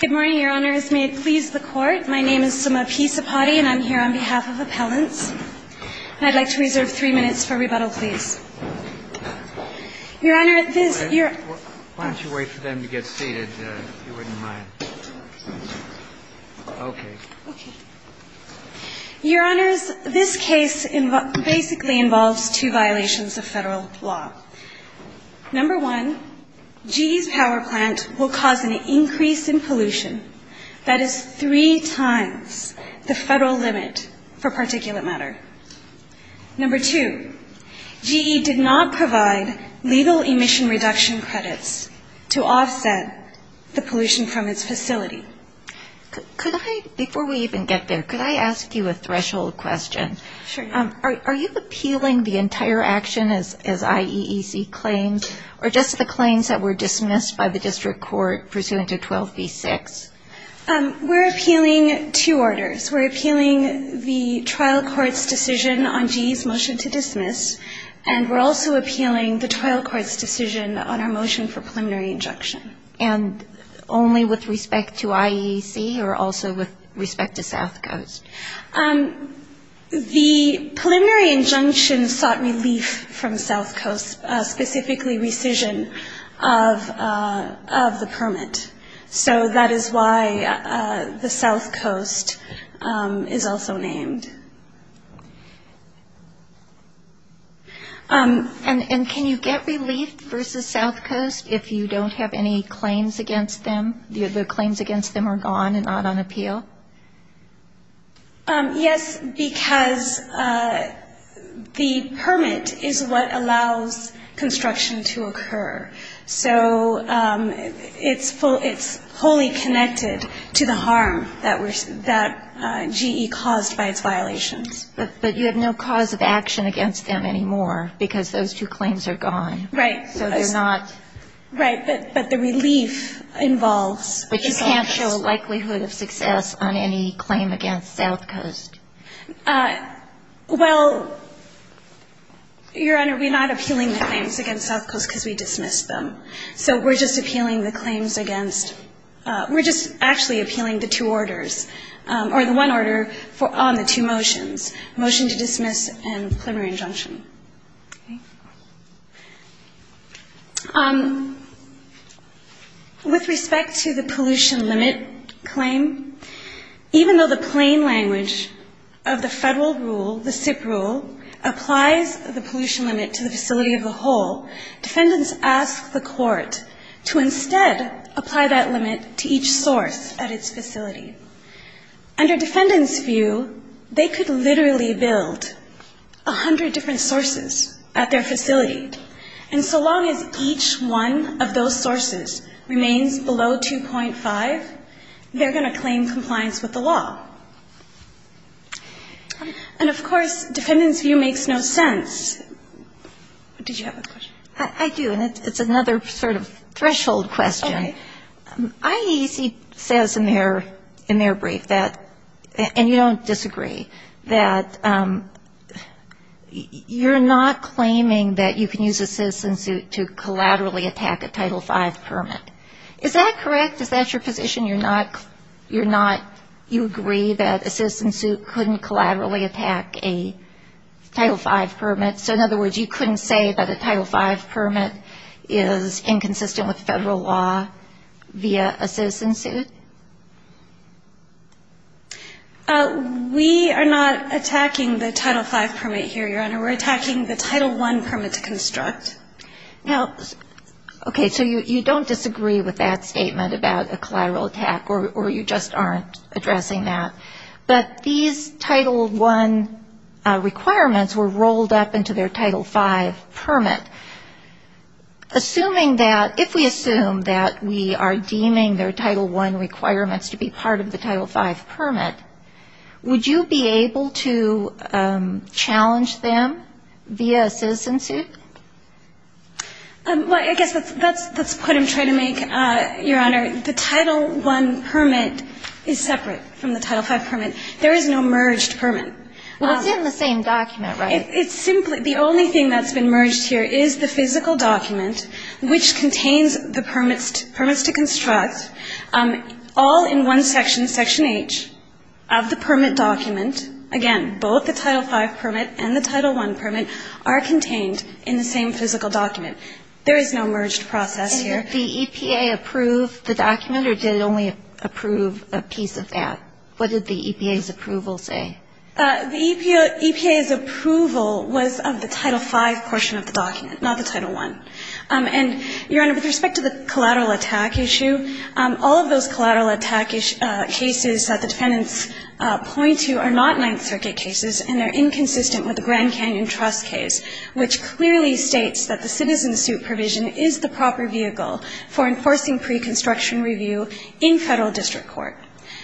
Good morning, Your Honors. May it please the Court, my name is Suma P. Sapati and I'm here on behalf of Appellants. I'd like to reserve three minutes for rebuttal, please. Your Honor, this... Why don't you wait for them to get seated, if you wouldn't mind. Okay. Okay. Your Honors, this case basically involves two violations of federal law. Number one, GE's power plant will cause an increase in pollution that is three times the federal limit for particulate matter. Number two, GE did not provide legal emission reduction credits to offset the pollution from its facility. Could I, before we even get there, could I ask you a threshold question? Sure. Are you appealing the entire action as IEEC claims, or just the claims that were dismissed by the district court pursuant to 12b-6? We're appealing two orders. We're appealing the trial court's decision on GE's motion to dismiss, and we're also appealing the trial court's decision on our motion for preliminary injunction. And only with respect to IEEC, or also with respect to South Coast? The preliminary injunction sought relief from South Coast, specifically rescission of the permit. So that is why the South Coast is also named. And can you get relief versus South Coast if you don't have any claims against them? The claims against them are gone and not on appeal? Yes, because the permit is what allows construction to occur. So it's fully connected to the harm that GE caused by its violations. But you have no cause of action against them anymore because those two claims are gone. Right. So they're not. Right. But the relief involves the South Coast. But you can't show likelihood of success on any claim against South Coast? Well, Your Honor, we're not appealing the claims against South Coast because we dismissed them. So we're just appealing the claims against – we're just actually appealing the two orders, or the one order on the two motions, motion to dismiss and preliminary injunction. Okay. With respect to the pollution limit claim, even though the plain language of the federal rule, the SIP rule, applies the pollution limit to the facility of the whole, defendants ask the court to instead apply that limit to each source at its facility. Under defendants' view, they could literally build 100 different sources at their facility. And so long as each one of those sources remains below 2.5, they're going to claim compliance with the law. And, of course, defendants' view makes no sense. Did you have a question? I do, and it's another sort of threshold question. Okay. IEC says in their brief that, and you don't disagree, that you're not claiming that you can use a citizen suit to collaterally attack a Title V permit. Is that correct? Is that your position? You're not – you agree that a citizen suit couldn't collaterally attack a Title V permit? So, in other words, you couldn't say that a Title V permit is inconsistent with federal law via a citizen suit? We are not attacking the Title V permit here, Your Honor. We're attacking the Title I permit to construct. Now, okay, so you don't disagree with that statement about a collateral attack, or you just aren't addressing that. But these Title I requirements were rolled up into their Title V permit. Assuming that, if we assume that we are deeming their Title I requirements to be part of the Title V permit, would you be able to challenge them via a citizen suit? Well, I guess that's the point I'm trying to make, Your Honor. The Title I permit is separate from the Title V permit. There is no merged permit. Well, it's in the same document, right? It's simply – the only thing that's been merged here is the physical document, which contains the permits to construct, all in one section, Section H, of the permit document. Again, both the Title V permit and the Title I permit are contained in the same physical document. There is no merged process here. The EPA approved the document, or did it only approve a piece of that? What did the EPA's approval say? The EPA's approval was of the Title V portion of the document, not the Title I. And, Your Honor, with respect to the collateral attack issue, all of those collateral attack cases that the defendants point to are not Ninth Circuit cases, and they're inconsistent with the Grand Canyon Trust case, which clearly states that the citizen suit provision is the proper vehicle for enforcing pre-construction review in federal district court.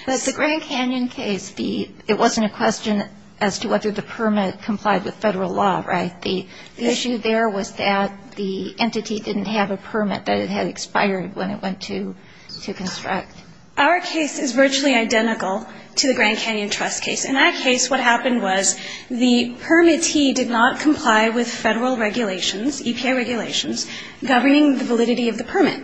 But the Grand Canyon case, it wasn't a question as to whether the permit complied with federal law, right? The issue there was that the entity didn't have a permit that it had expired when it went to construct. Our case is virtually identical to the Grand Canyon Trust case. In that case, what happened was the permittee did not comply with federal regulations, EPA regulations, governing the validity of the permit.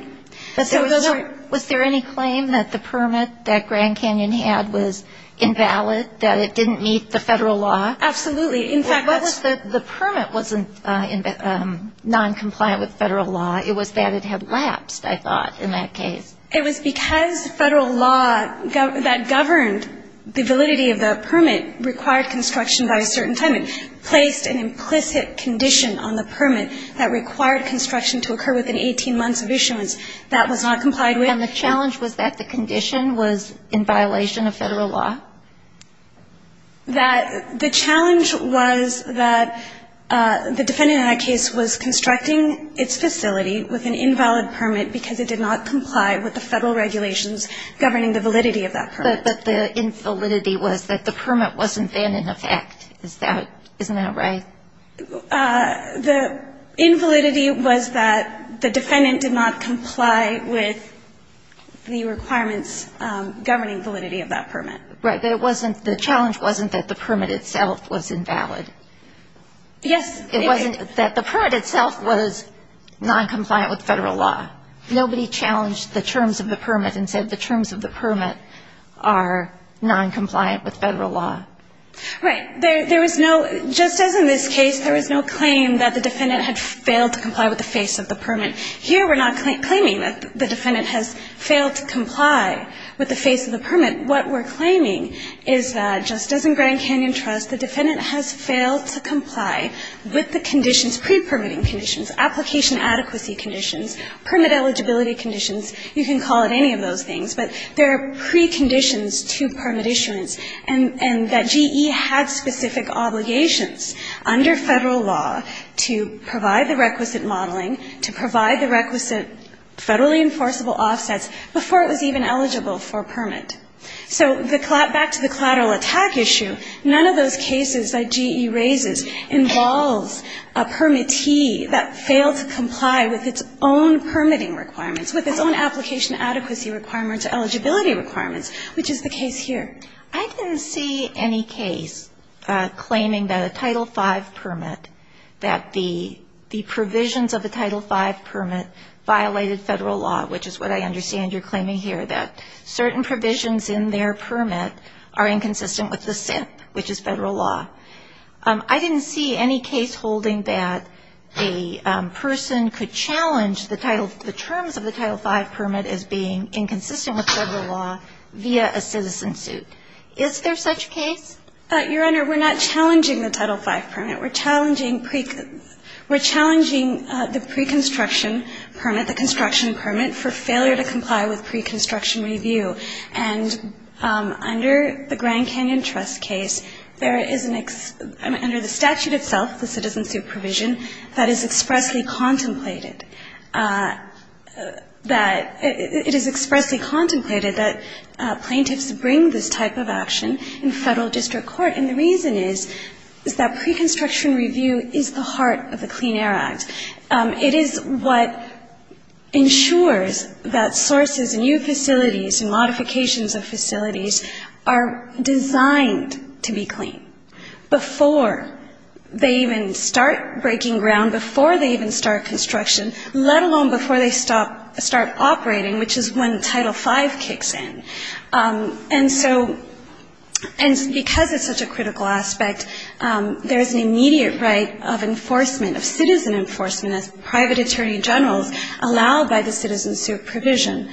But there was no ‑‑ Was there any claim that the permit that Grand Canyon had was invalid, that it didn't meet the federal law? Absolutely. In fact, that's ‑‑ What was the ‑‑ the permit wasn't noncompliant with federal law. It was that it had lapsed, I thought, in that case. It was because federal law that governed the validity of the permit required construction by a certain time and placed an implicit condition on the permit that required construction to occur within 18 months of issuance. That was not complied with. And the challenge was that the condition was in violation of federal law? That the challenge was that the defendant in that case was constructing its facility with an invalid permit because it did not comply with the federal regulations governing the validity of that permit. But the infalidity was that the permit wasn't then in effect. Isn't that right? The infalidity was that the defendant did not comply with the requirements governing validity of that permit. Right. But it wasn't ‑‑ the challenge wasn't that the permit itself was invalid. Yes. It wasn't that the permit itself was noncompliant with federal law. Nobody challenged the terms of the permit and said the terms of the permit are noncompliant with federal law. Right. There was no ‑‑ just as in this case, there was no claim that the defendant had failed to comply with the face of the permit. Here we're not claiming that the defendant has failed to comply with the face of the permit. What we're claiming is that just as in Grand Canyon Trust, the defendant has failed to comply with the conditions, pre‑permitting conditions, application adequacy conditions, permit eligibility conditions, you can call it any of those things, but there are preconditions to permit issuance and that GE had specific obligations under federal law to provide the requisite modeling, to provide the requisite federally enforceable offsets before it was even eligible for permit. So back to the collateral attack issue, none of those cases that GE raises involves a permittee that failed to comply with its own permitting requirements, with its own application adequacy requirements or eligibility requirements, which is the case here. I didn't see any case claiming that a Title V permit, that the provisions of the Title V permit violated federal law, which is what I understand you're claiming here, that certain provisions in their permit are inconsistent with the SIP, which is federal law. I didn't see any case holding that a person could challenge the title ‑‑ the terms of the Title V permit as being inconsistent with federal law via a citizen suit. Is there such a case? Your Honor, we're not challenging the Title V permit. We're challenging ‑‑ we're challenging the preconstruction permit, the construction permit, for failure to comply with preconstruction review. And under the Grand Canyon Trust case, there is an ‑‑ under the statute itself, the citizen suit provision, that is expressly contemplated that ‑‑ it is expressly contemplated that plaintiffs bring this type of action in federal district court. And the reason is, is that preconstruction review is the heart of the Clean Air Act. It is what ensures that sources and new facilities and modifications of facilities are designed to be clean before they even start breaking ground, before they even start construction, let alone before they stop ‑‑ start operating, which is when Title V kicks in. And so ‑‑ and because it's such a critical aspect, there's an immediate right of enforcement, of citizen enforcement, as private attorney generals, allowed by the citizen suit provision.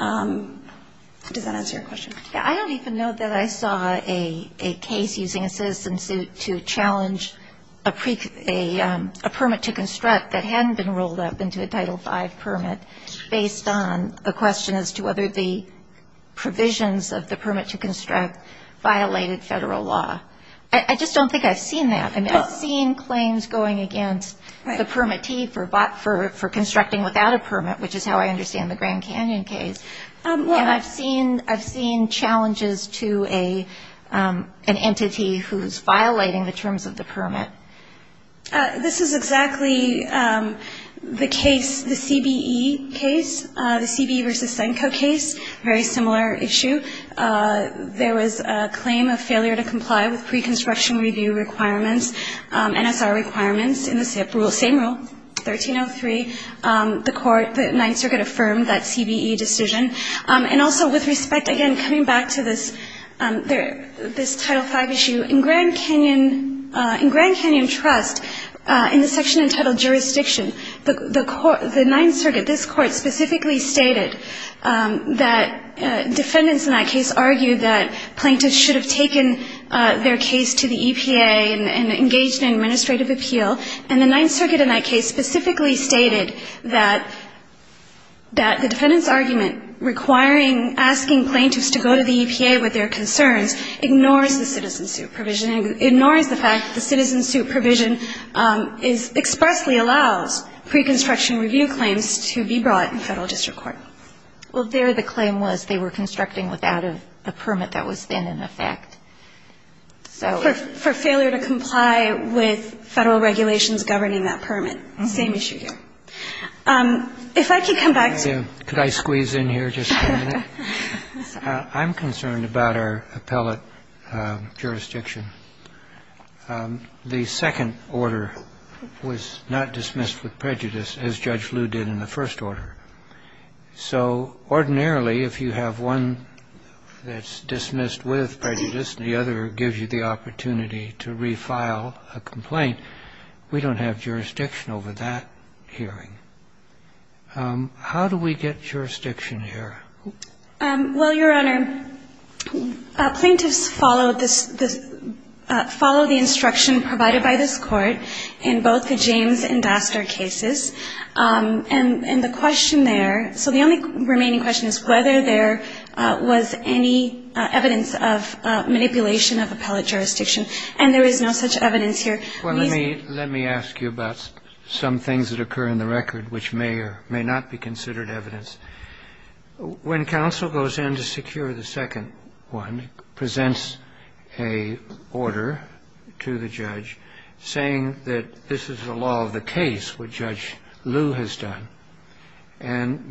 Does that answer your question? I don't even know that I saw a case using a citizen suit to challenge a permit to construct that hadn't been rolled up into a Title V permit based on the question as to whether the provisions of the permit to construct violated federal law. I just don't think I've seen that. I mean, I've seen claims going against the permittee for constructing without a permit, which is how I understand the Grand Canyon case. And I've seen challenges to an entity who's violating the terms of the permit. This is exactly the case, the CBE case, the CBE v. Senko case, very similar issue. There was a claim of failure to comply with preconstruction review requirements, NSR requirements, in the same rule, 1303. The court, the Ninth Circuit, affirmed that CBE decision. And also, with respect, again, coming back to this Title V issue, in Grand Canyon ‑‑ in Grand Canyon Trust, in the section entitled jurisdiction, the Ninth Circuit, this court specifically stated that defendants in that case argued that plaintiffs should have taken their case to the EPA and engaged in administrative appeal. And the Ninth Circuit in that case specifically stated that the defendants' argument requiring ‑‑ asking plaintiffs to go to the EPA with their concerns ignores the citizen suit provision, ignores the fact that the citizen suit provision expressly allows preconstruction review claims to be brought in federal district court. Well, there the claim was they were constructing without a permit that was then in effect. So ‑‑ For failure to comply with federal regulations governing that permit. Same issue here. If I could come back to ‑‑ Could I squeeze in here just a minute? I'm concerned about our appellate jurisdiction. The second order was not dismissed with prejudice, as Judge Liu did in the first order. So ordinarily, if you have one that's dismissed with prejudice and the other gives you the opportunity to refile a complaint, we don't have jurisdiction over that hearing. How do we get jurisdiction here? Well, Your Honor, plaintiffs follow the instruction provided by this Court in both the James and Dastar cases. And the question there, so the only remaining question is whether there was any evidence of manipulation of appellate jurisdiction. And there is no such evidence here. Let me ask you about some things that occur in the record which may or may not be considered evidence. When counsel goes in to secure the second one, presents an order to the judge saying that this is the law of the case, what Judge Liu has done,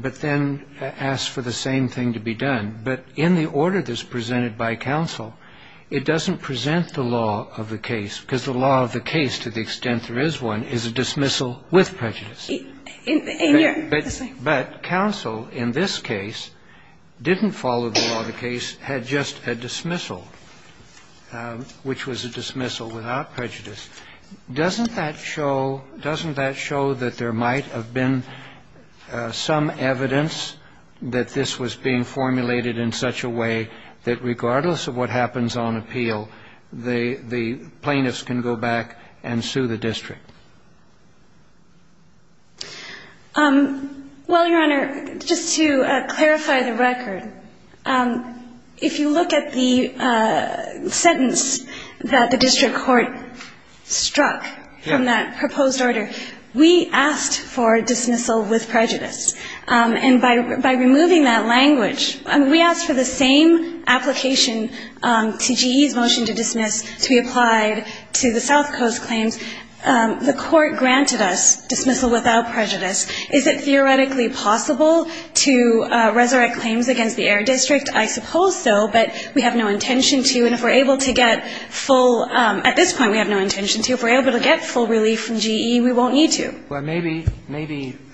but then asks for the same thing to be done. But in the order that's presented by counsel, it doesn't present the law of the case, because the law of the case, to the extent there is one, is a dismissal with prejudice. But counsel in this case didn't follow the law of the case, had just a dismissal, which was a dismissal without prejudice. Doesn't that show that there might have been some evidence that this was being formulated in such a way that regardless of what happens on appeal, the plaintiffs can go back and sue the district? Well, Your Honor, just to clarify the record, if you look at the sentence that the district court struck from that proposed order, we asked for dismissal with prejudice. And by removing that language, we asked for the same application to GE's motion to dismiss to be applied to the South Coast claims. The court granted us dismissal without prejudice. Is it theoretically possible to resurrect claims against the Air District? I suppose so, but we have no intention to. And if we're able to get full at this point, we have no intention to. If we're able to get full relief from GE, we won't need to. Well, maybe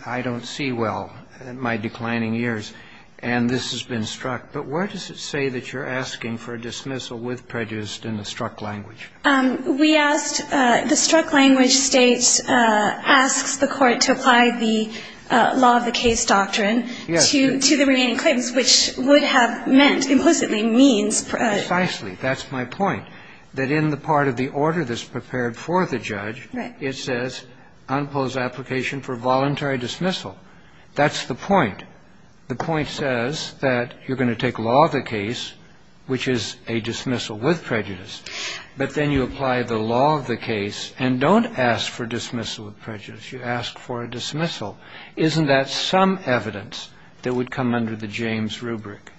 I don't see well in my declining years, and this has been struck. But where does it say that you're asking for a dismissal with prejudice in the struck language? We asked the struck language states asks the court to apply the law of the case doctrine to the remaining claims, which would have meant, implicitly, means prejudice. Precisely. That's my point, that in the part of the order that's prepared for the judge, it says unpose application for voluntary dismissal. That's the point. The point says that you're going to take law of the case, which is a dismissal with prejudice, but then you apply the law of the case and don't ask for dismissal with prejudice. You ask for a dismissal. Isn't that some evidence that would come under the James rubric?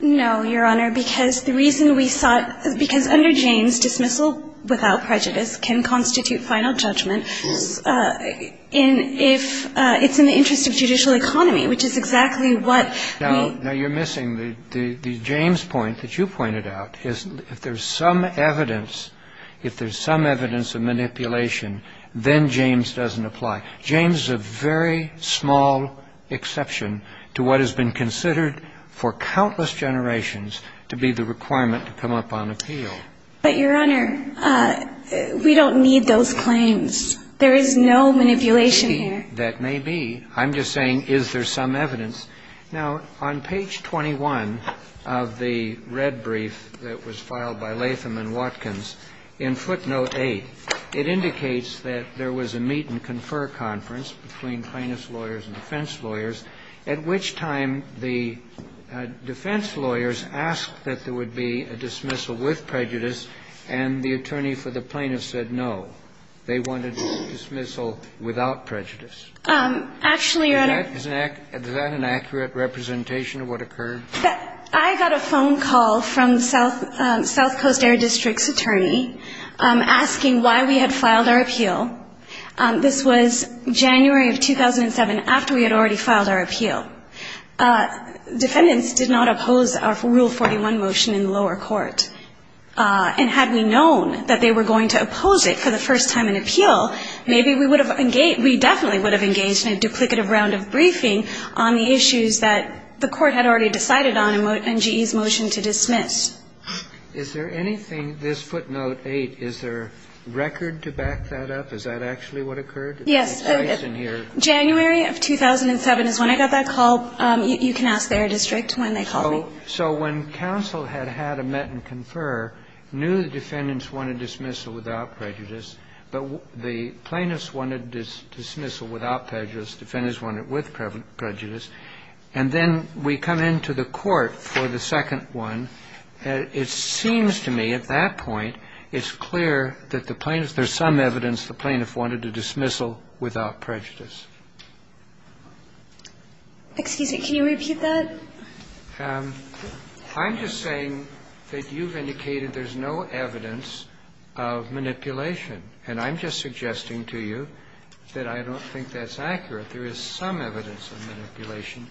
No, Your Honor, because the reason we sought – because under James, dismissal without prejudice can constitute final judgment if it's in the interest of judicial autonomy, which is exactly what we – Now, you're missing the James point that you pointed out, is if there's some evidence – if there's some evidence of manipulation, then James doesn't apply. James is a very small exception to what has been considered for countless generations to be the requirement to come up on appeal. But, Your Honor, we don't need those claims. There is no manipulation here. That may be. I'm just saying, is there some evidence? Now, on page 21 of the red brief that was filed by Latham and Watkins, in footnote 8, it indicates that there was a meet-and-confer conference between plaintiff's lawyers and defense lawyers, at which time the defense lawyers asked that there would be a dismissal with prejudice, and the attorney for the plaintiff said no. They wanted a dismissal without prejudice. Actually, Your Honor – Is that an accurate representation of what occurred? I got a phone call from the South Coast Air District's attorney asking why we had filed our appeal. This was January of 2007, after we had already filed our appeal. Defendants did not oppose our Rule 41 motion in the lower court. And had we known that they were going to oppose it for the first time in appeal, maybe we would have engaged – we definitely would have engaged in a duplicative round of briefing on the issues that the court had already decided on in GE's motion to dismiss. Is there anything – this footnote 8, is there record to back that up? Is that actually what occurred? Yes. January of 2007 is when I got that call. You can ask the Air District when they called me. So when counsel had had a met and confer, knew the defendants wanted dismissal without prejudice, but the plaintiffs wanted dismissal without prejudice, defendants wanted it with prejudice. And then we come into the court for the second one. It seems to me at that point it's clear that the plaintiffs – there's some evidence the plaintiff wanted a dismissal without prejudice. Excuse me, can you repeat that? I'm just saying that you've indicated there's no evidence of manipulation. And I'm just suggesting to you that I don't think that's accurate. There is some evidence of manipulation.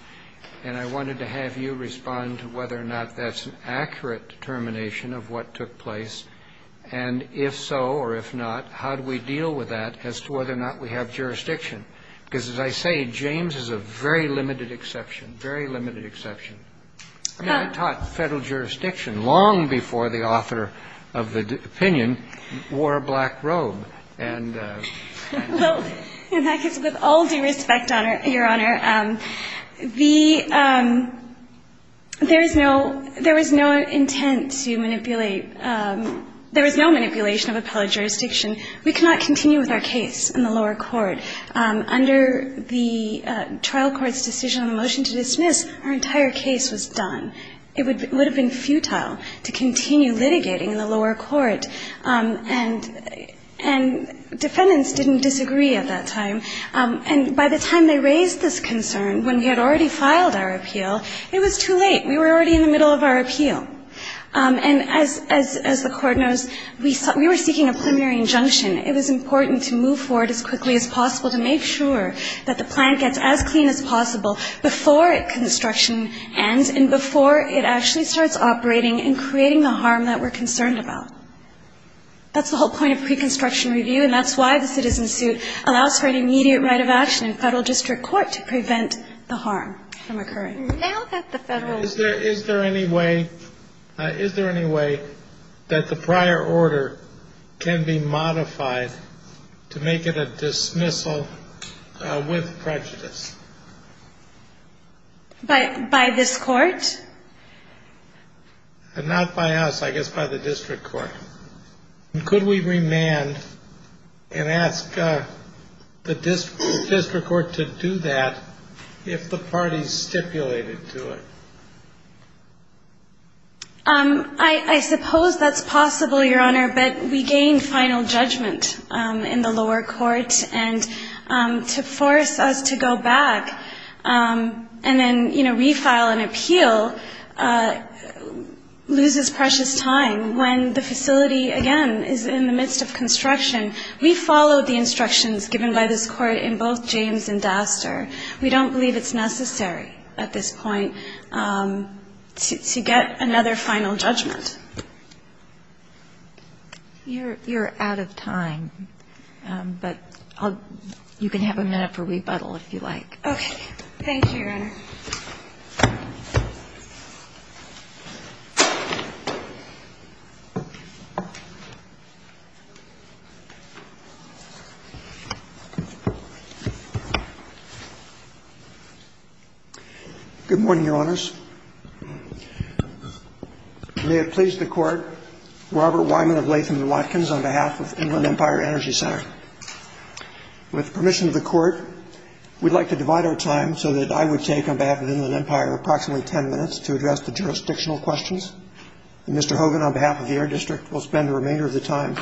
And I wanted to have you respond to whether or not that's an accurate determination of what took place. And if so or if not, how do we deal with that as to whether or not we have jurisdiction? Because as I say, James is a very limited exception, very limited exception. I mean, I taught federal jurisdiction long before the author of the opinion wore a black robe. And – Well, in fact, with all due respect, Your Honor, the – there is no – there was no intent to manipulate – there was no manipulation of appellate jurisdiction. We cannot continue with our case in the lower court. Under the trial court's decision on the motion to dismiss, our entire case was done. It would have been futile to continue litigating in the lower court. And defendants didn't disagree at that time. And by the time they raised this concern, when we had already filed our appeal, it was too late. We were already in the middle of our appeal. And as the Court knows, we were seeking a preliminary injunction. It was important to move forward as quickly as possible to make sure that the plan gets as clean as possible before construction ends and before it actually starts operating and creating the harm that we're concerned about. That's the whole point of pre-construction review. And that's why the citizen suit allows for an immediate right of action in federal district court to prevent the harm from occurring. Now that the federal – Is there any way that the prior order can be modified to make it a dismissal with prejudice? By this court? Not by us. I guess by the district court. Could we remand and ask the district court to do that if the parties stipulated to it? I suppose that's possible, Your Honor, but we gained final judgment in the lower court. And to force us to go back and then, you know, refile an appeal loses precious time when the facility, again, is in the midst of construction. We followed the instructions given by this court in both James and Daster. We don't believe it's necessary at this point to get another final judgment. You're out of time. But you can have a minute for rebuttal if you like. Thank you, Your Honor. Good morning, Your Honors. May it please the Court, Robert Wyman of Latham & Watkins on behalf of Inland Empire Energy Center. With permission of the Court, we'd like to divide our time so that I would take, on behalf of Inland Empire, approximately ten minutes to address the jurisdictional questions. And Mr. Hogan, on behalf of the Air District, will spend the remainder of the time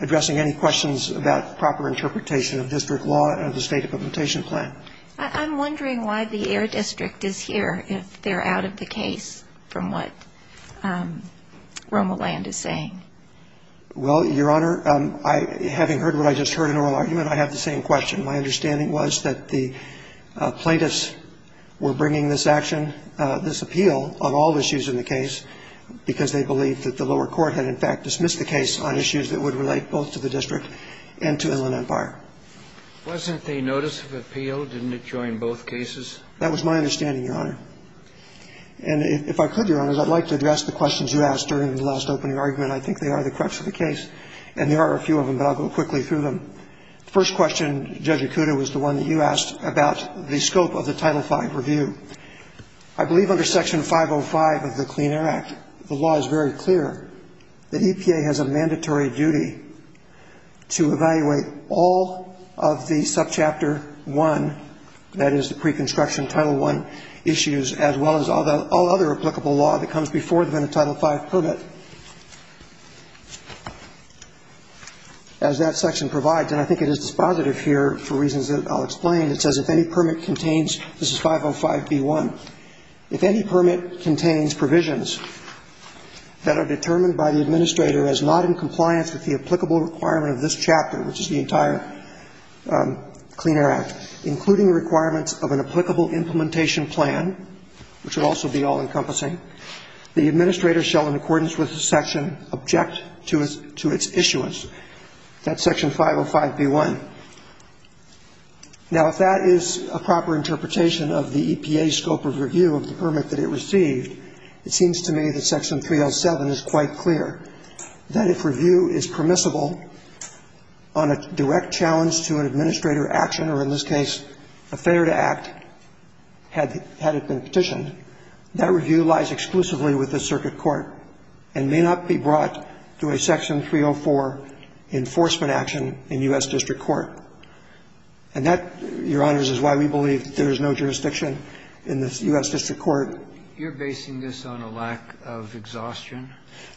addressing any questions about proper interpretation of district law and the State Implementation Plan. I'm wondering why the Air District is here, if they're out of the case from what Romoland is saying. Well, Your Honor, having heard what I just heard in oral argument, I have the same question. My understanding was that the plaintiffs were bringing this action, this appeal, on all issues in the case because they believed that the lower court had, in fact, dismissed the case on issues that would relate both to the district and to Inland Empire. Wasn't the notice of appeal? Didn't it join both cases? That was my understanding, Your Honor. And if I could, Your Honors, I'd like to address the questions you asked during the last opening argument. I think they are the crux of the case, and there are a few of them, but I'll go quickly through them. The first question, Judge Okuda, was the one that you asked about the scope of the Title V review. I believe under Section 505 of the Clean Air Act, the law is very clear that EPA has a mandatory duty to evaluate all of the subchapter 1, that is the pre-construction Title I issues, as well as all other applicable law that comes before them in a Title V permit. As that section provides, and I think it is dispositive here for reasons that I'll explain, it says if any permit contains, this is 505B1, if any permit contains provisions that are determined by the administrator as not in compliance with the applicable requirement of this chapter, which is the entire Clean Air Act, including requirements of an applicable implementation plan, which would also be all-encompassing, the administrator shall, in accordance with the section, object to its issuance. That's Section 505B1. Now, if that is a proper interpretation of the EPA's scope of review of the permit that it received, it seems to me that Section 307 is quite clear that if review is permissible on a direct challenge to an administrator action, or in this case, a failure to act, had it been petitioned, that review lies exclusively with the circuit court and may not be brought to a Section 304 enforcement action in U.S. District Court. And that, Your Honors, is why we believe there is no jurisdiction in the U.S. District Court. Breyer. You're basing this on a lack of exhaustion?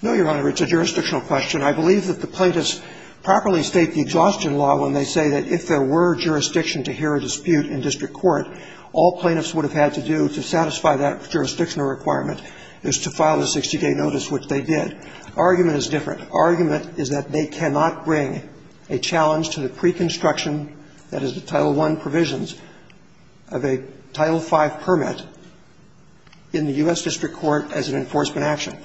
No, Your Honor. It's a jurisdictional question. I believe that the plaintiffs properly state the exhaustion law when they say that if there were jurisdiction to hear a dispute in district court, all plaintiffs would have had to do to satisfy that jurisdictional requirement is to file a 60-day notice, which they did. Argument is different. Argument is that they cannot bring a challenge to the preconstruction, that is, the Title I provisions, of a Title V permit in the U.S. District Court as an enforcement action.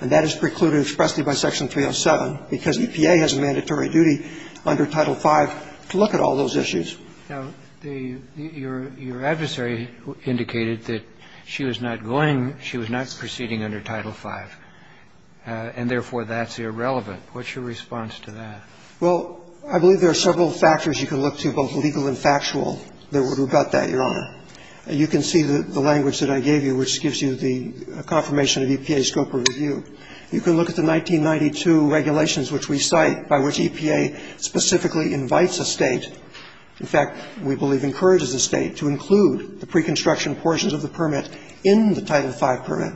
And that is precluded expressly by Section 307, because EPA has a mandatory duty under Title V to look at all those issues. Now, your adversary indicated that she was not going, she was not proceeding under Title V, and therefore that's irrelevant. What's your response to that? Well, I believe there are several factors you can look to, both legal and factual, that would rebut that, Your Honor. You can see the language that I gave you, which gives you the confirmation of EPA's scope of review. You can look at the 1992 regulations, which we cite, by which EPA specifically invites a State, in fact, we believe encourages a State, to include the preconstruction portions of the permit in the Title V permit.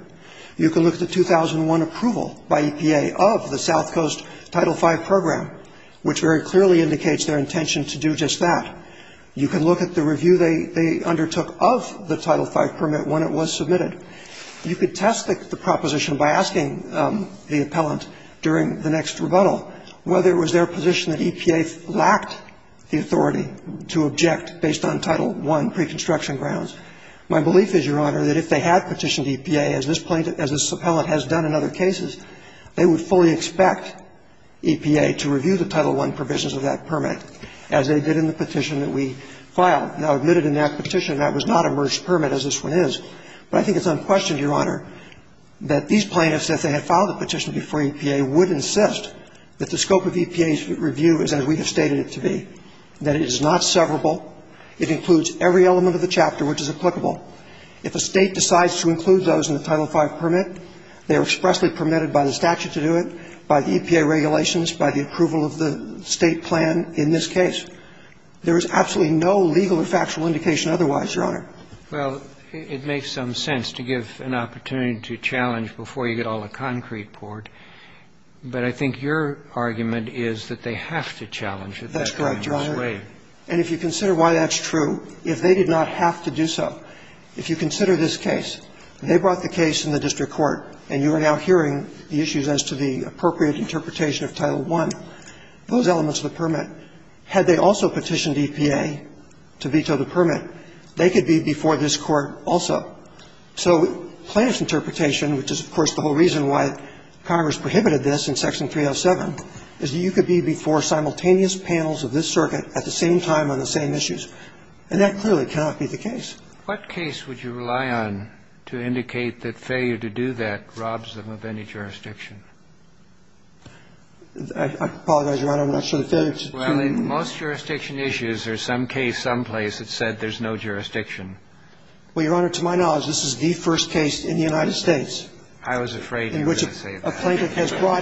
You can look at the 2001 approval by EPA of the South Coast Title V program, which very clearly indicates their intention to do just that. You can look at the review they undertook of the Title V permit when it was submitted. You could test the proposition by asking the appellant during the next rebuttal whether it was their position that EPA lacked the authority to object based on Title I preconstruction grounds. My belief is, Your Honor, that if they had petitioned EPA, as this plaintiff ‑‑ as this appellant has done in other cases, they would fully expect EPA to review the Title I provisions of that permit, as they did in the petition that we filed. Now, admitted in that petition, that was not a merged permit, as this one is. But I think it's unquestioned, Your Honor, that these plaintiffs, if they had filed the petition before EPA, would insist that the scope of EPA's review is as we have stated it to be, that it is not severable, it includes every element of the chapter which is applicable. If a State decides to include those in the Title V permit, they are expressly permitted by the statute to do it, by the EPA regulations, by the approval of the State plan in this case. There is absolutely no legal or factual indication otherwise, Your Honor. Well, it makes some sense to give an opportunity to challenge before you get all the concrete poured. But I think your argument is that they have to challenge it that way. That's correct, Your Honor. And if you consider why that's true, if they did not have to do so, if you consider this case, they brought the case in the district court, and you are now hearing the issues as to the appropriate interpretation of Title I, those elements of the permit, had they also petitioned EPA to veto the permit, they could be before this court also. So plaintiff's interpretation, which is, of course, the whole reason why Congress prohibited this in Section 307, is that you could be before simultaneous panels of this circuit at the same time on the same issues. And that clearly cannot be the case. What case would you rely on to indicate that failure to do that robs them of any jurisdiction? I apologize, Your Honor. I'm not sure the theory is true. Well, in most jurisdiction issues, there's some case someplace that said there's no jurisdiction. Well, Your Honor, to my knowledge, this is the first case in the United States I was afraid you were going to say that. Well,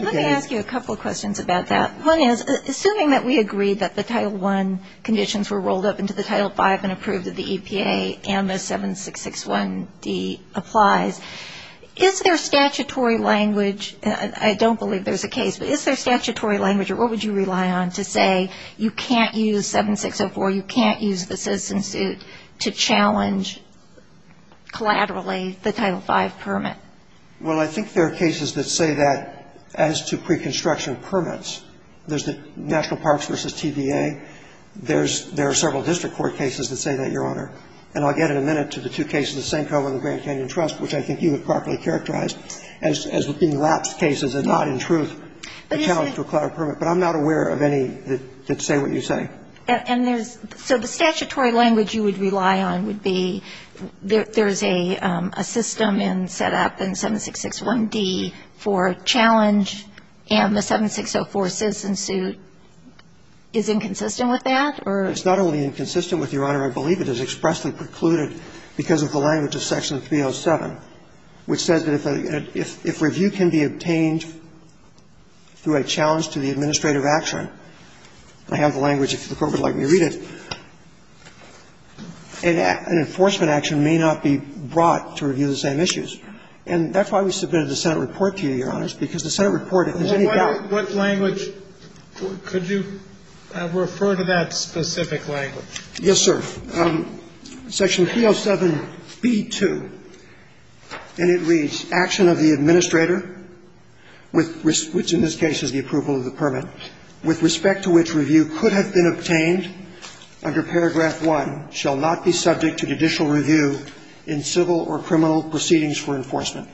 let me ask you a couple of questions about that. One is, assuming that we agree that the Title I conditions were rolled up into the Title V and approved at the EPA and the 7661D applies, is there statutory language, and I don't believe there's a case, but is there statutory language or what would you rely on to say you can't use 7604, you can't use the citizen suit to challenge collaterally the Title V permit? Well, I think there are cases that say that as to preconstruction permits. There's the National Parks v. TVA. There's – there are several district court cases that say that, Your Honor. And I'll get in a minute to the two cases that same cover the Grand Canyon Trust, which I think you have properly characterized as being lapsed cases and not in truth a challenge to a collateral permit. But I'm not aware of any that say what you say. And there's – so the statutory language you would rely on would be there's a system in set up in 7661D for a challenge and the 7604 citizen suit is inconsistent with that or? It's not only inconsistent with, Your Honor. I believe it is expressly precluded because of the language of Section 307, which says that if a – if review can be obtained through a challenge to the administrative action, I have the language if the Court would like me to read it, an enforcement action may not be brought to review the same issues. And that's why we submitted the Senate report to you, Your Honors, because the Senate report, if there's any doubt – Well, what language – could you refer to that specific language? Yes, sir. Section 307b2, and it reads, action of the administrator, which in this case is the approval of the permit, with respect to which review could have been obtained under Paragraph 1, shall not be subject to judicial review in civil or criminal proceedings for enforcement.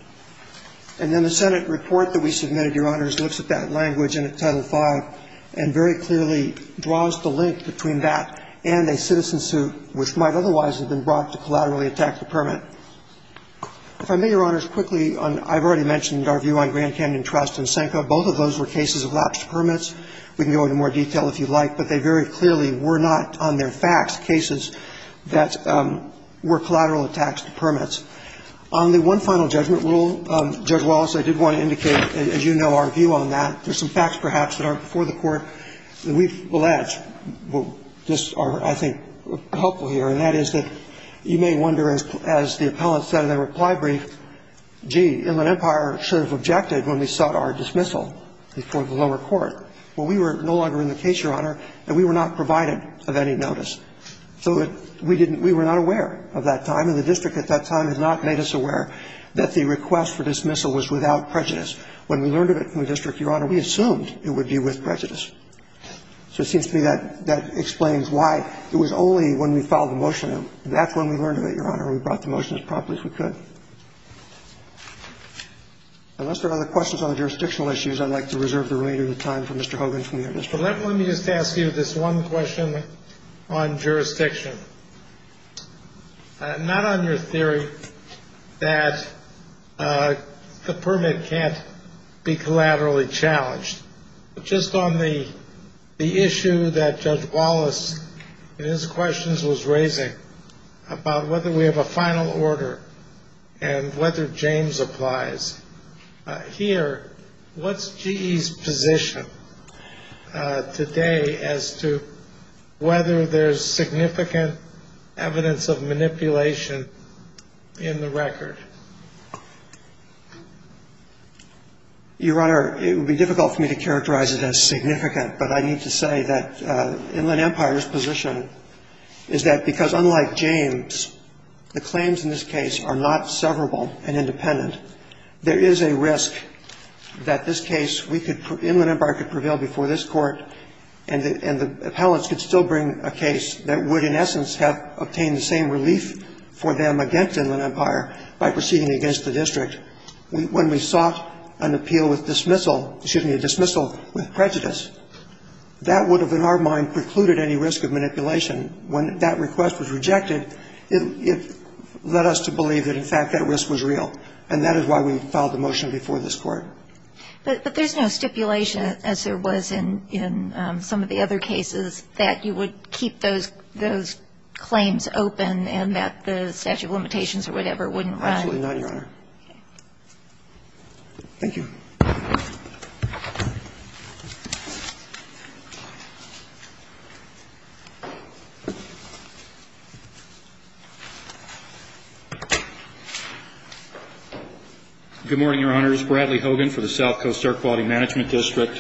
And then the Senate report that we submitted, Your Honors, looks at that language in Title V and very clearly draws the link between that and a citizen suit, which might otherwise have been brought to collaterally attack the permit. If I may, Your Honors, quickly on – I've already mentioned our view on Grand Canyon Trust and Sanko. Both of those were cases of lapsed permits. We can go into more detail if you'd like, but they very clearly were not, on their facts, cases that were collateral attacks to permits. On the one final judgment rule, Judge Wallace, I did want to indicate, as you know, our view on that. There's some facts, perhaps, that aren't before the Court that we've alleged just are, I think, helpful here, and that is that you may wonder, as the appellant said in the reply brief, gee, Inland Empire should have objected when we sought our dismissal before the lower court. Well, we were no longer in the case, Your Honor, and we were not provided of any notice. So we didn't – we were not aware of that time, and the district at that time had not made us aware that the request for dismissal was without prejudice. When we learned of it from the district, Your Honor, we assumed it would be with prejudice. So it seems to me that that explains why it was only when we filed the motion, that's when we learned of it, Your Honor, and we brought the motion as promptly as we could. Unless there are other questions on the jurisdictional issues, I'd like to reserve the remainder of the time for Mr. Hogan from the administration. Let me just ask you this one question on jurisdiction, not on your theory that the permit can't be collaterally challenged, but just on the issue that Judge Wallace in his questions was raising about whether we have a final order and whether James applies. Here, what's GE's position today as to whether there's significant evidence of manipulation in the record? Your Honor, it would be difficult for me to characterize it as significant, but I need to say that Inland Empire's position is that because unlike James, the claims in this case are not severable and independent. There is a risk that this case, we could, Inland Empire could prevail before this Court and the appellants could still bring a case that would in essence have obtained the same relief for them against Inland Empire by proceeding against the district. When we sought an appeal with dismissal, excuse me, a dismissal with prejudice, that would have in our mind precluded any risk of manipulation. When that request was rejected, it led us to believe that, in fact, that risk was real. And that is why we filed the motion before this Court. But there's no stipulation, as there was in some of the other cases, that you would keep those claims open and that the statute of limitations or whatever wouldn't run? Absolutely not, Your Honor. Okay. Thank you. Good morning, Your Honors. Bradley Hogan for the South Coast Air Quality Management District.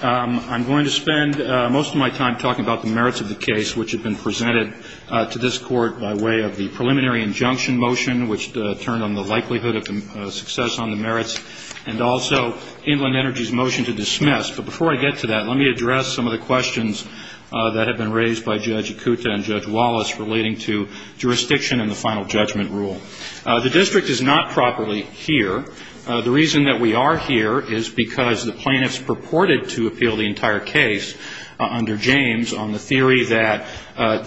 I'm going to spend most of my time talking about the merits of the case which have been presented to this Court by way of the preliminary injunction motion, which Inland Energy's motion to dismiss. But before I get to that, let me address some of the questions that have been raised by Judge Acuta and Judge Wallace relating to jurisdiction and the final judgment rule. The district is not properly here. The reason that we are here is because the plaintiffs purported to appeal the entire case under James on the theory that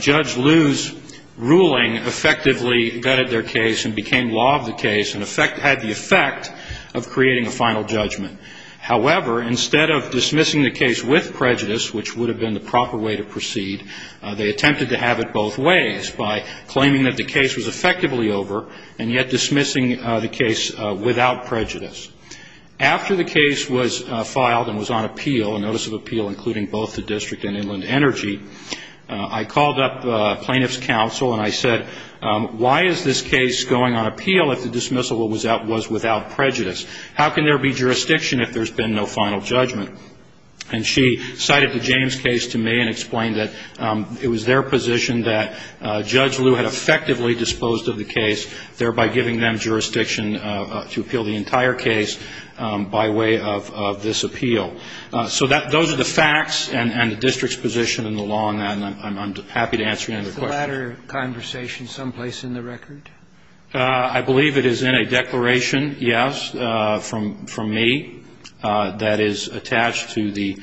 Judge Liu's ruling effectively gutted their case and became law of the case and had the effect of creating a final judgment. However, instead of dismissing the case with prejudice, which would have been the proper way to proceed, they attempted to have it both ways by claiming that the case was effectively over and yet dismissing the case without prejudice. After the case was filed and was on appeal, a notice of appeal including both the if the dismissal was without prejudice. How can there be jurisdiction if there's been no final judgment? And she cited the James case to me and explained that it was their position that Judge Liu had effectively disposed of the case, thereby giving them jurisdiction to appeal the entire case by way of this appeal. So those are the facts and the district's position in the law, and I'm happy to answer any other questions. Is the latter conversation someplace in the record? I believe it is in a declaration, yes, from me, that is attached to the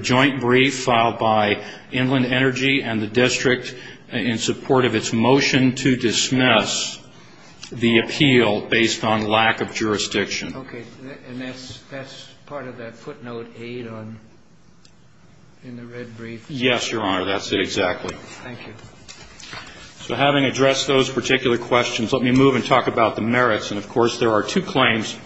joint brief filed by Inland Energy and the district in support of its motion to dismiss the appeal based on lack of jurisdiction. Okay. And that's part of that footnote 8 in the red brief? Yes, Your Honor, that's it exactly. Thank you. So having addressed those particular questions, let me move and talk about the merits. And, of course, there are two claims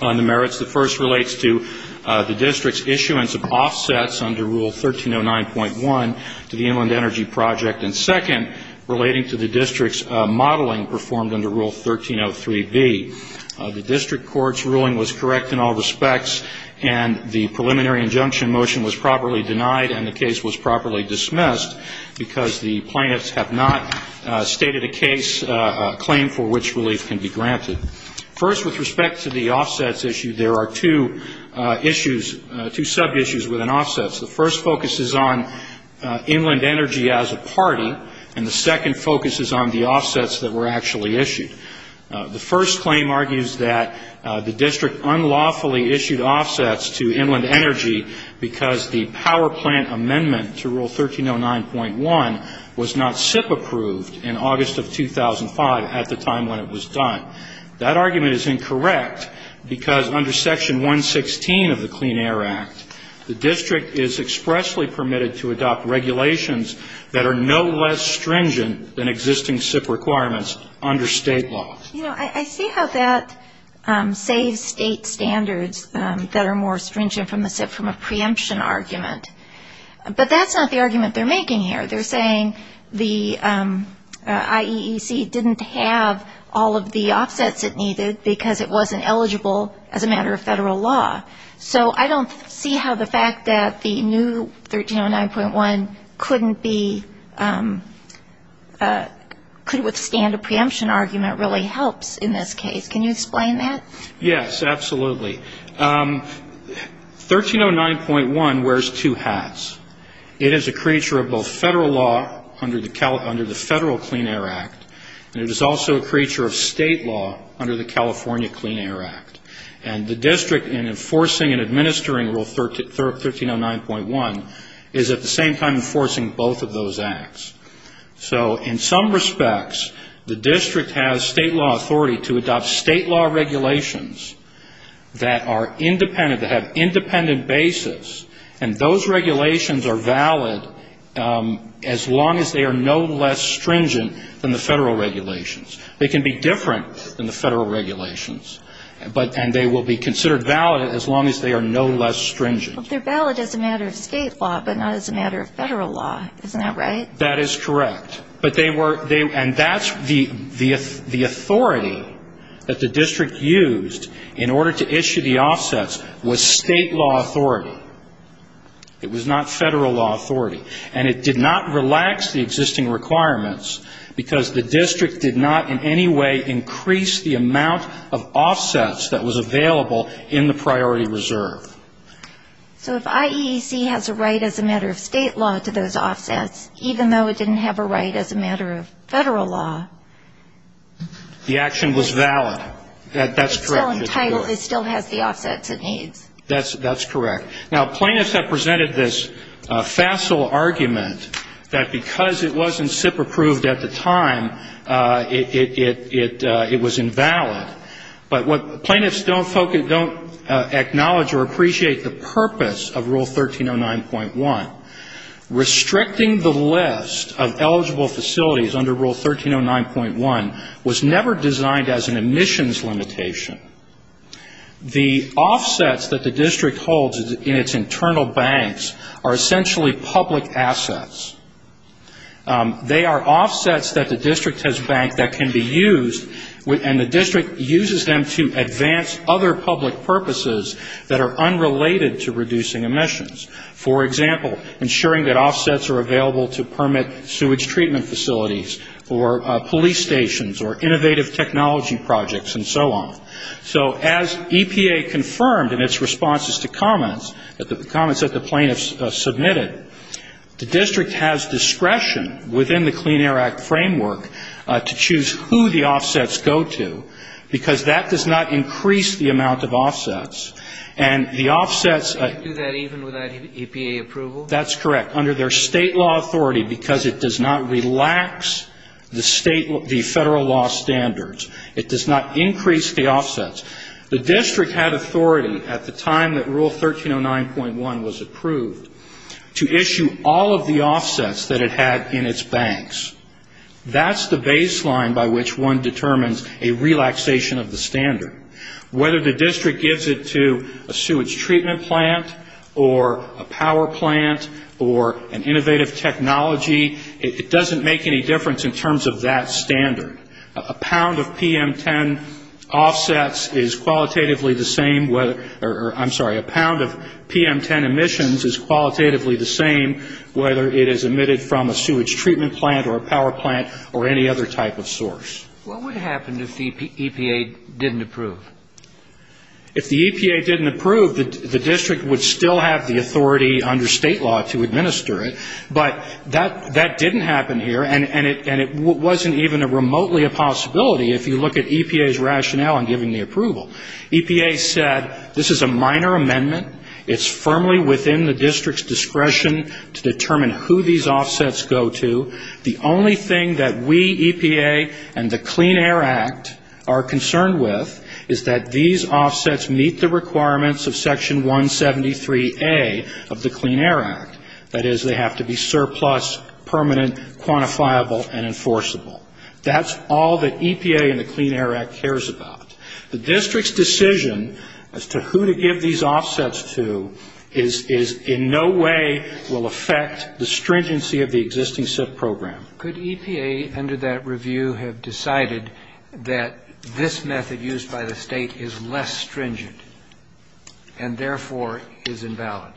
on the merits. The first relates to the district's issuance of offsets under Rule 1309.1 to the Inland Energy Project, and second, relating to the district's modeling performed under Rule 1303B. The district court's ruling was correct in all respects, and the preliminary injunction motion was properly denied and the case was properly dismissed because the plaintiffs have not stated a case claim for which relief can be granted. First, with respect to the offsets issue, there are two issues, two sub-issues within offsets. The first focuses on Inland Energy as a party, and the second focuses on the offsets that were actually issued. The first claim argues that the district unlawfully issued offsets to Inland Energy because the power plant amendment to Rule 1309.1 was not SIP approved in August of 2005 at the time when it was done. That argument is incorrect because under Section 116 of the Clean Air Act, the district is expressly permitted to adopt regulations that are no less stringent than existing SIP requirements under state law. You know, I see how that saves state standards that are more stringent from the SIP from a preemption argument, but that's not the argument they're making here. They're saying the IEEC didn't have all of the offsets it needed because it wasn't eligible as a matter of federal law. So I don't see how the fact that the new 1309.1 couldn't be, could withstand a preemption argument really helps in this case. Can you explain that? Yes, absolutely. 1309.1 wears two hats. It is a creature of both federal law under the Federal Clean Air Act, and it is also a creature of state law under the California Clean Air Act. And the district, in enforcing and administering Rule 1309.1, is at the same time enforcing both of those acts. So in some respects, the district has state law authority to adopt state law regulations that are independent, that have independent basis, and those regulations are valid as long as they are no less stringent than the federal regulations. They can be different than the federal regulations. And they will be considered valid as long as they are no less stringent. But they're valid as a matter of state law, but not as a matter of federal law. Isn't that right? That is correct. And that's the authority that the district used in order to issue the offsets was state law authority. It was not federal law authority. And it did not relax the existing requirements because the district did not in any way increase the amount of offsets that was available in the priority reserve. So if IAEC has a right as a matter of state law to those offsets, even though it didn't have a right as a matter of federal law. The action was valid. That's correct. It still has the offsets it needs. That's correct. Now, plaintiffs have presented this facile argument that because it wasn't SIP-approved at the time, it was invalid. But plaintiffs don't acknowledge or appreciate the purpose of Rule 1309.1. Restricting the list of eligible facilities under Rule 1309.1 was never designed as an emissions limitation. The offsets that the district holds in its internal banks are essentially public assets. They are offsets that the district has banked that can be used, and the district uses them to advance other public purposes that are unrelated to reducing emissions. For example, ensuring that offsets are available to permit sewage treatment facilities or police stations or innovative technology projects and so on. So as EPA confirmed in its responses to comments, comments that the plaintiffs submitted, the district has discretion within the Clean Air Act framework to choose who the offsets go to, because that does not increase the amount of offsets. And the offsets of the state law authority because it does not relax the federal law standards. It does not increase the offsets. The district had authority at the time that Rule 1309.1 was approved to issue all of the offsets that it had in its banks. That's the baseline by which one determines a relaxation of the standard. Whether the district gives it to a sewage treatment plant or a power plant or an innovative technology, it doesn't make any difference in terms of that standard. A pound of PM10 offsets is qualitatively the same whether or I'm sorry, a pound of PM10 emissions is qualitatively the same whether it is emitted from a sewage treatment plant or a power plant or any other type of source. What would happen if the EPA didn't approve? If the EPA didn't approve, the district would still have the authority under state law to administer it. But that didn't happen here, and it wasn't even remotely a possibility if you look at EPA's rationale in giving the approval. EPA said this is a minor amendment. It's firmly within the district's discretion to determine who these offsets go to. The only thing that we, EPA, and the Clean Air Act are concerned with is that these offsets meet the requirements of Section 173A of the Clean Air Act. That is, they have to be surplus, permanent, quantifiable, and enforceable. That's all that EPA and the Clean Air Act cares about. The district's decision as to who to give these offsets to is in no way will affect the stringency of the existing SIP program. Could EPA under that review have decided that this method used by the state is less stringent and therefore is invalid,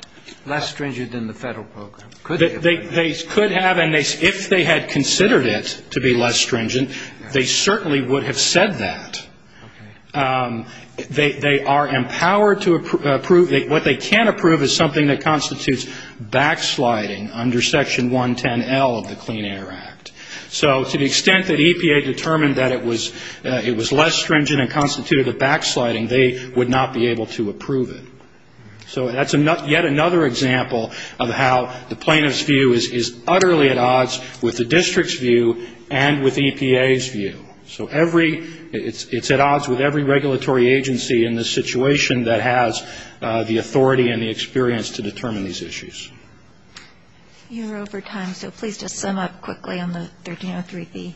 less stringent than the federal program? Could they have? They could have, and if they had considered it to be less stringent, they certainly would have said that. Okay. They are empowered to approve. What they can't approve is something that constitutes backsliding under Section 110L of the Clean Air Act. So to the extent that EPA determined that it was less stringent and constituted a backsliding, they would not be able to approve it. So that's yet another example of how the plaintiff's view is utterly at odds with the district's view and with EPA's view. So it's at odds with every regulatory agency in this situation that has the authority and the experience to determine these issues. You're over time, so please just sum up quickly on the 1303B.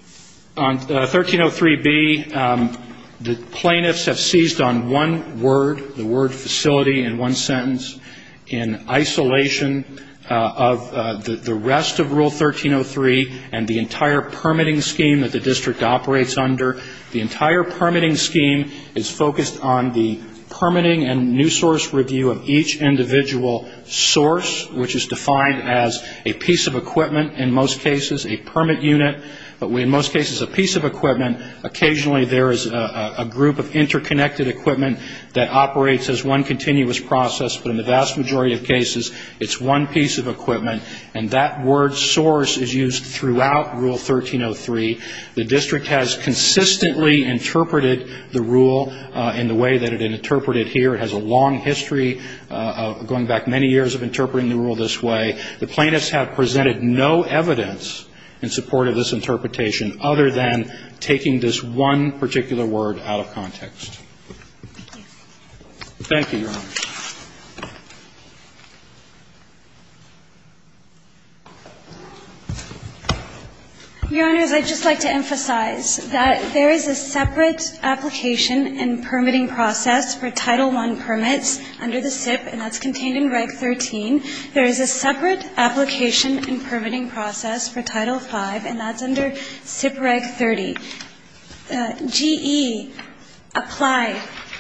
On 1303B, the plaintiffs have seized on one word, the word facility in one sentence, in isolation of the rest of Rule 1303 and the entire permitting scheme that the district operates under. The entire permitting scheme is focused on the permitting and new source review of each individual source, which is defined as a piece of equipment, in most cases a permit unit, but in most cases a piece of equipment. Occasionally, there is a group of interconnected equipment that operates as one continuous process, but in the vast majority of cases, it's one piece of equipment, and that word source is used throughout Rule 1303. The district has consistently interpreted the rule in the way that it had been interpreted here. It has a long history of going back many years of interpreting the rule this way. The plaintiffs have presented no evidence in support of this interpretation other than taking this one particular word out of context. Thank you, Your Honors. Your Honors, I'd just like to emphasize that there is a separate application and permitting process for Title I permits under the SIP, and that's contained in Reg 13. There is a separate application and permitting process for Title V, and that's under SIP Reg 30. GE applied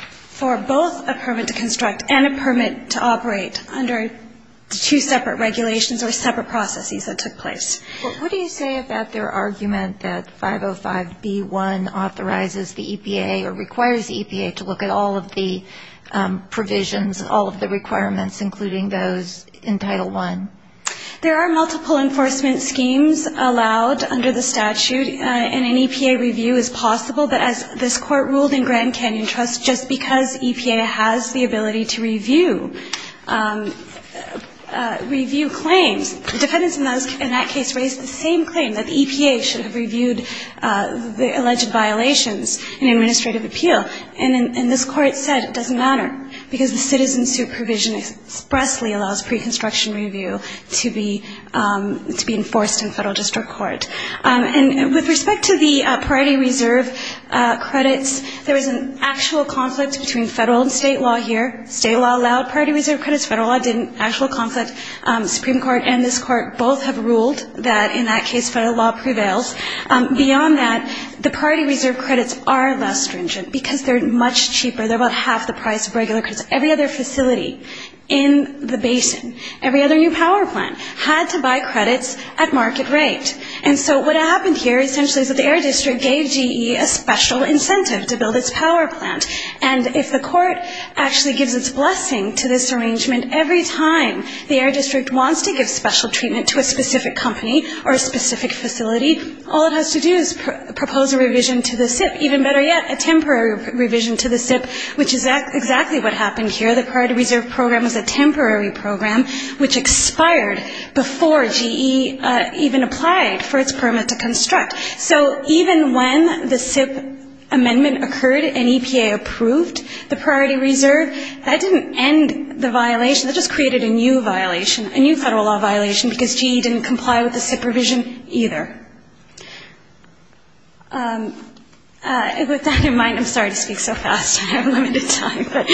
for both a permit to construct and a permit to operate under two separate regulations or separate processes that took place. Well, what do you say about their argument that 505B1 authorizes the EPA or requires the EPA to look at all of the provisions, all of the requirements, including those in Title I? There are multiple enforcement schemes allowed under the statute, and an EPA review is possible, but as this Court ruled in Grand Canyon Trust, just because EPA has the ability to review claims, defendants in that case raised the same claim, that the EPA should have reviewed the alleged violations in administrative appeal. And this Court said it doesn't matter because the citizen supervision expressly allows pre-construction review to be enforced in federal district court. And with respect to the priority reserve credits, there is an actual conflict between federal and state law here. State law allowed priority reserve credits. Federal law didn't. Actual conflict. Supreme Court and this Court both have ruled that in that case federal law prevails. Beyond that, the priority reserve credits are less stringent because they're much cheaper. They're about half the price of regular credits. Every other facility in the basin, every other new power plant had to buy credits at market rate. And so what happened here essentially is that the Air District gave GE a special incentive to build its power plant. And if the court actually gives its blessing to this arrangement every time the Air District wants to give special treatment to a specific company or a specific facility, all it has to do is propose a revision to the SIP, even better yet, a temporary revision to the SIP, which is exactly what happened here. The priority reserve program was a temporary program which expired before GE even applied for its permit to construct. So even when the SIP amendment occurred and EPA approved the priority reserve, that didn't end the violation. That just created a new violation, a new federal law violation, because GE didn't comply with the SIP revision either. With that in mind, I'm sorry to speak so fast. I have limited time. But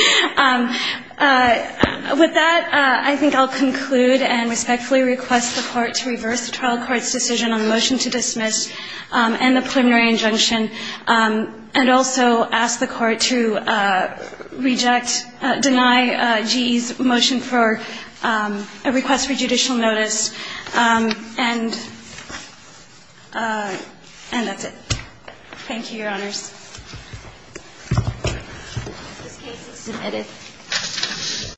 with that, I think I'll conclude and respectfully request the Court to reverse the trial court's decision on the motion to dismiss and the preliminary injunction, and also ask the Court to reject, deny GE's motion for a request for judicial notice. And that's it. Thank you, Your Honors. This case is submitted.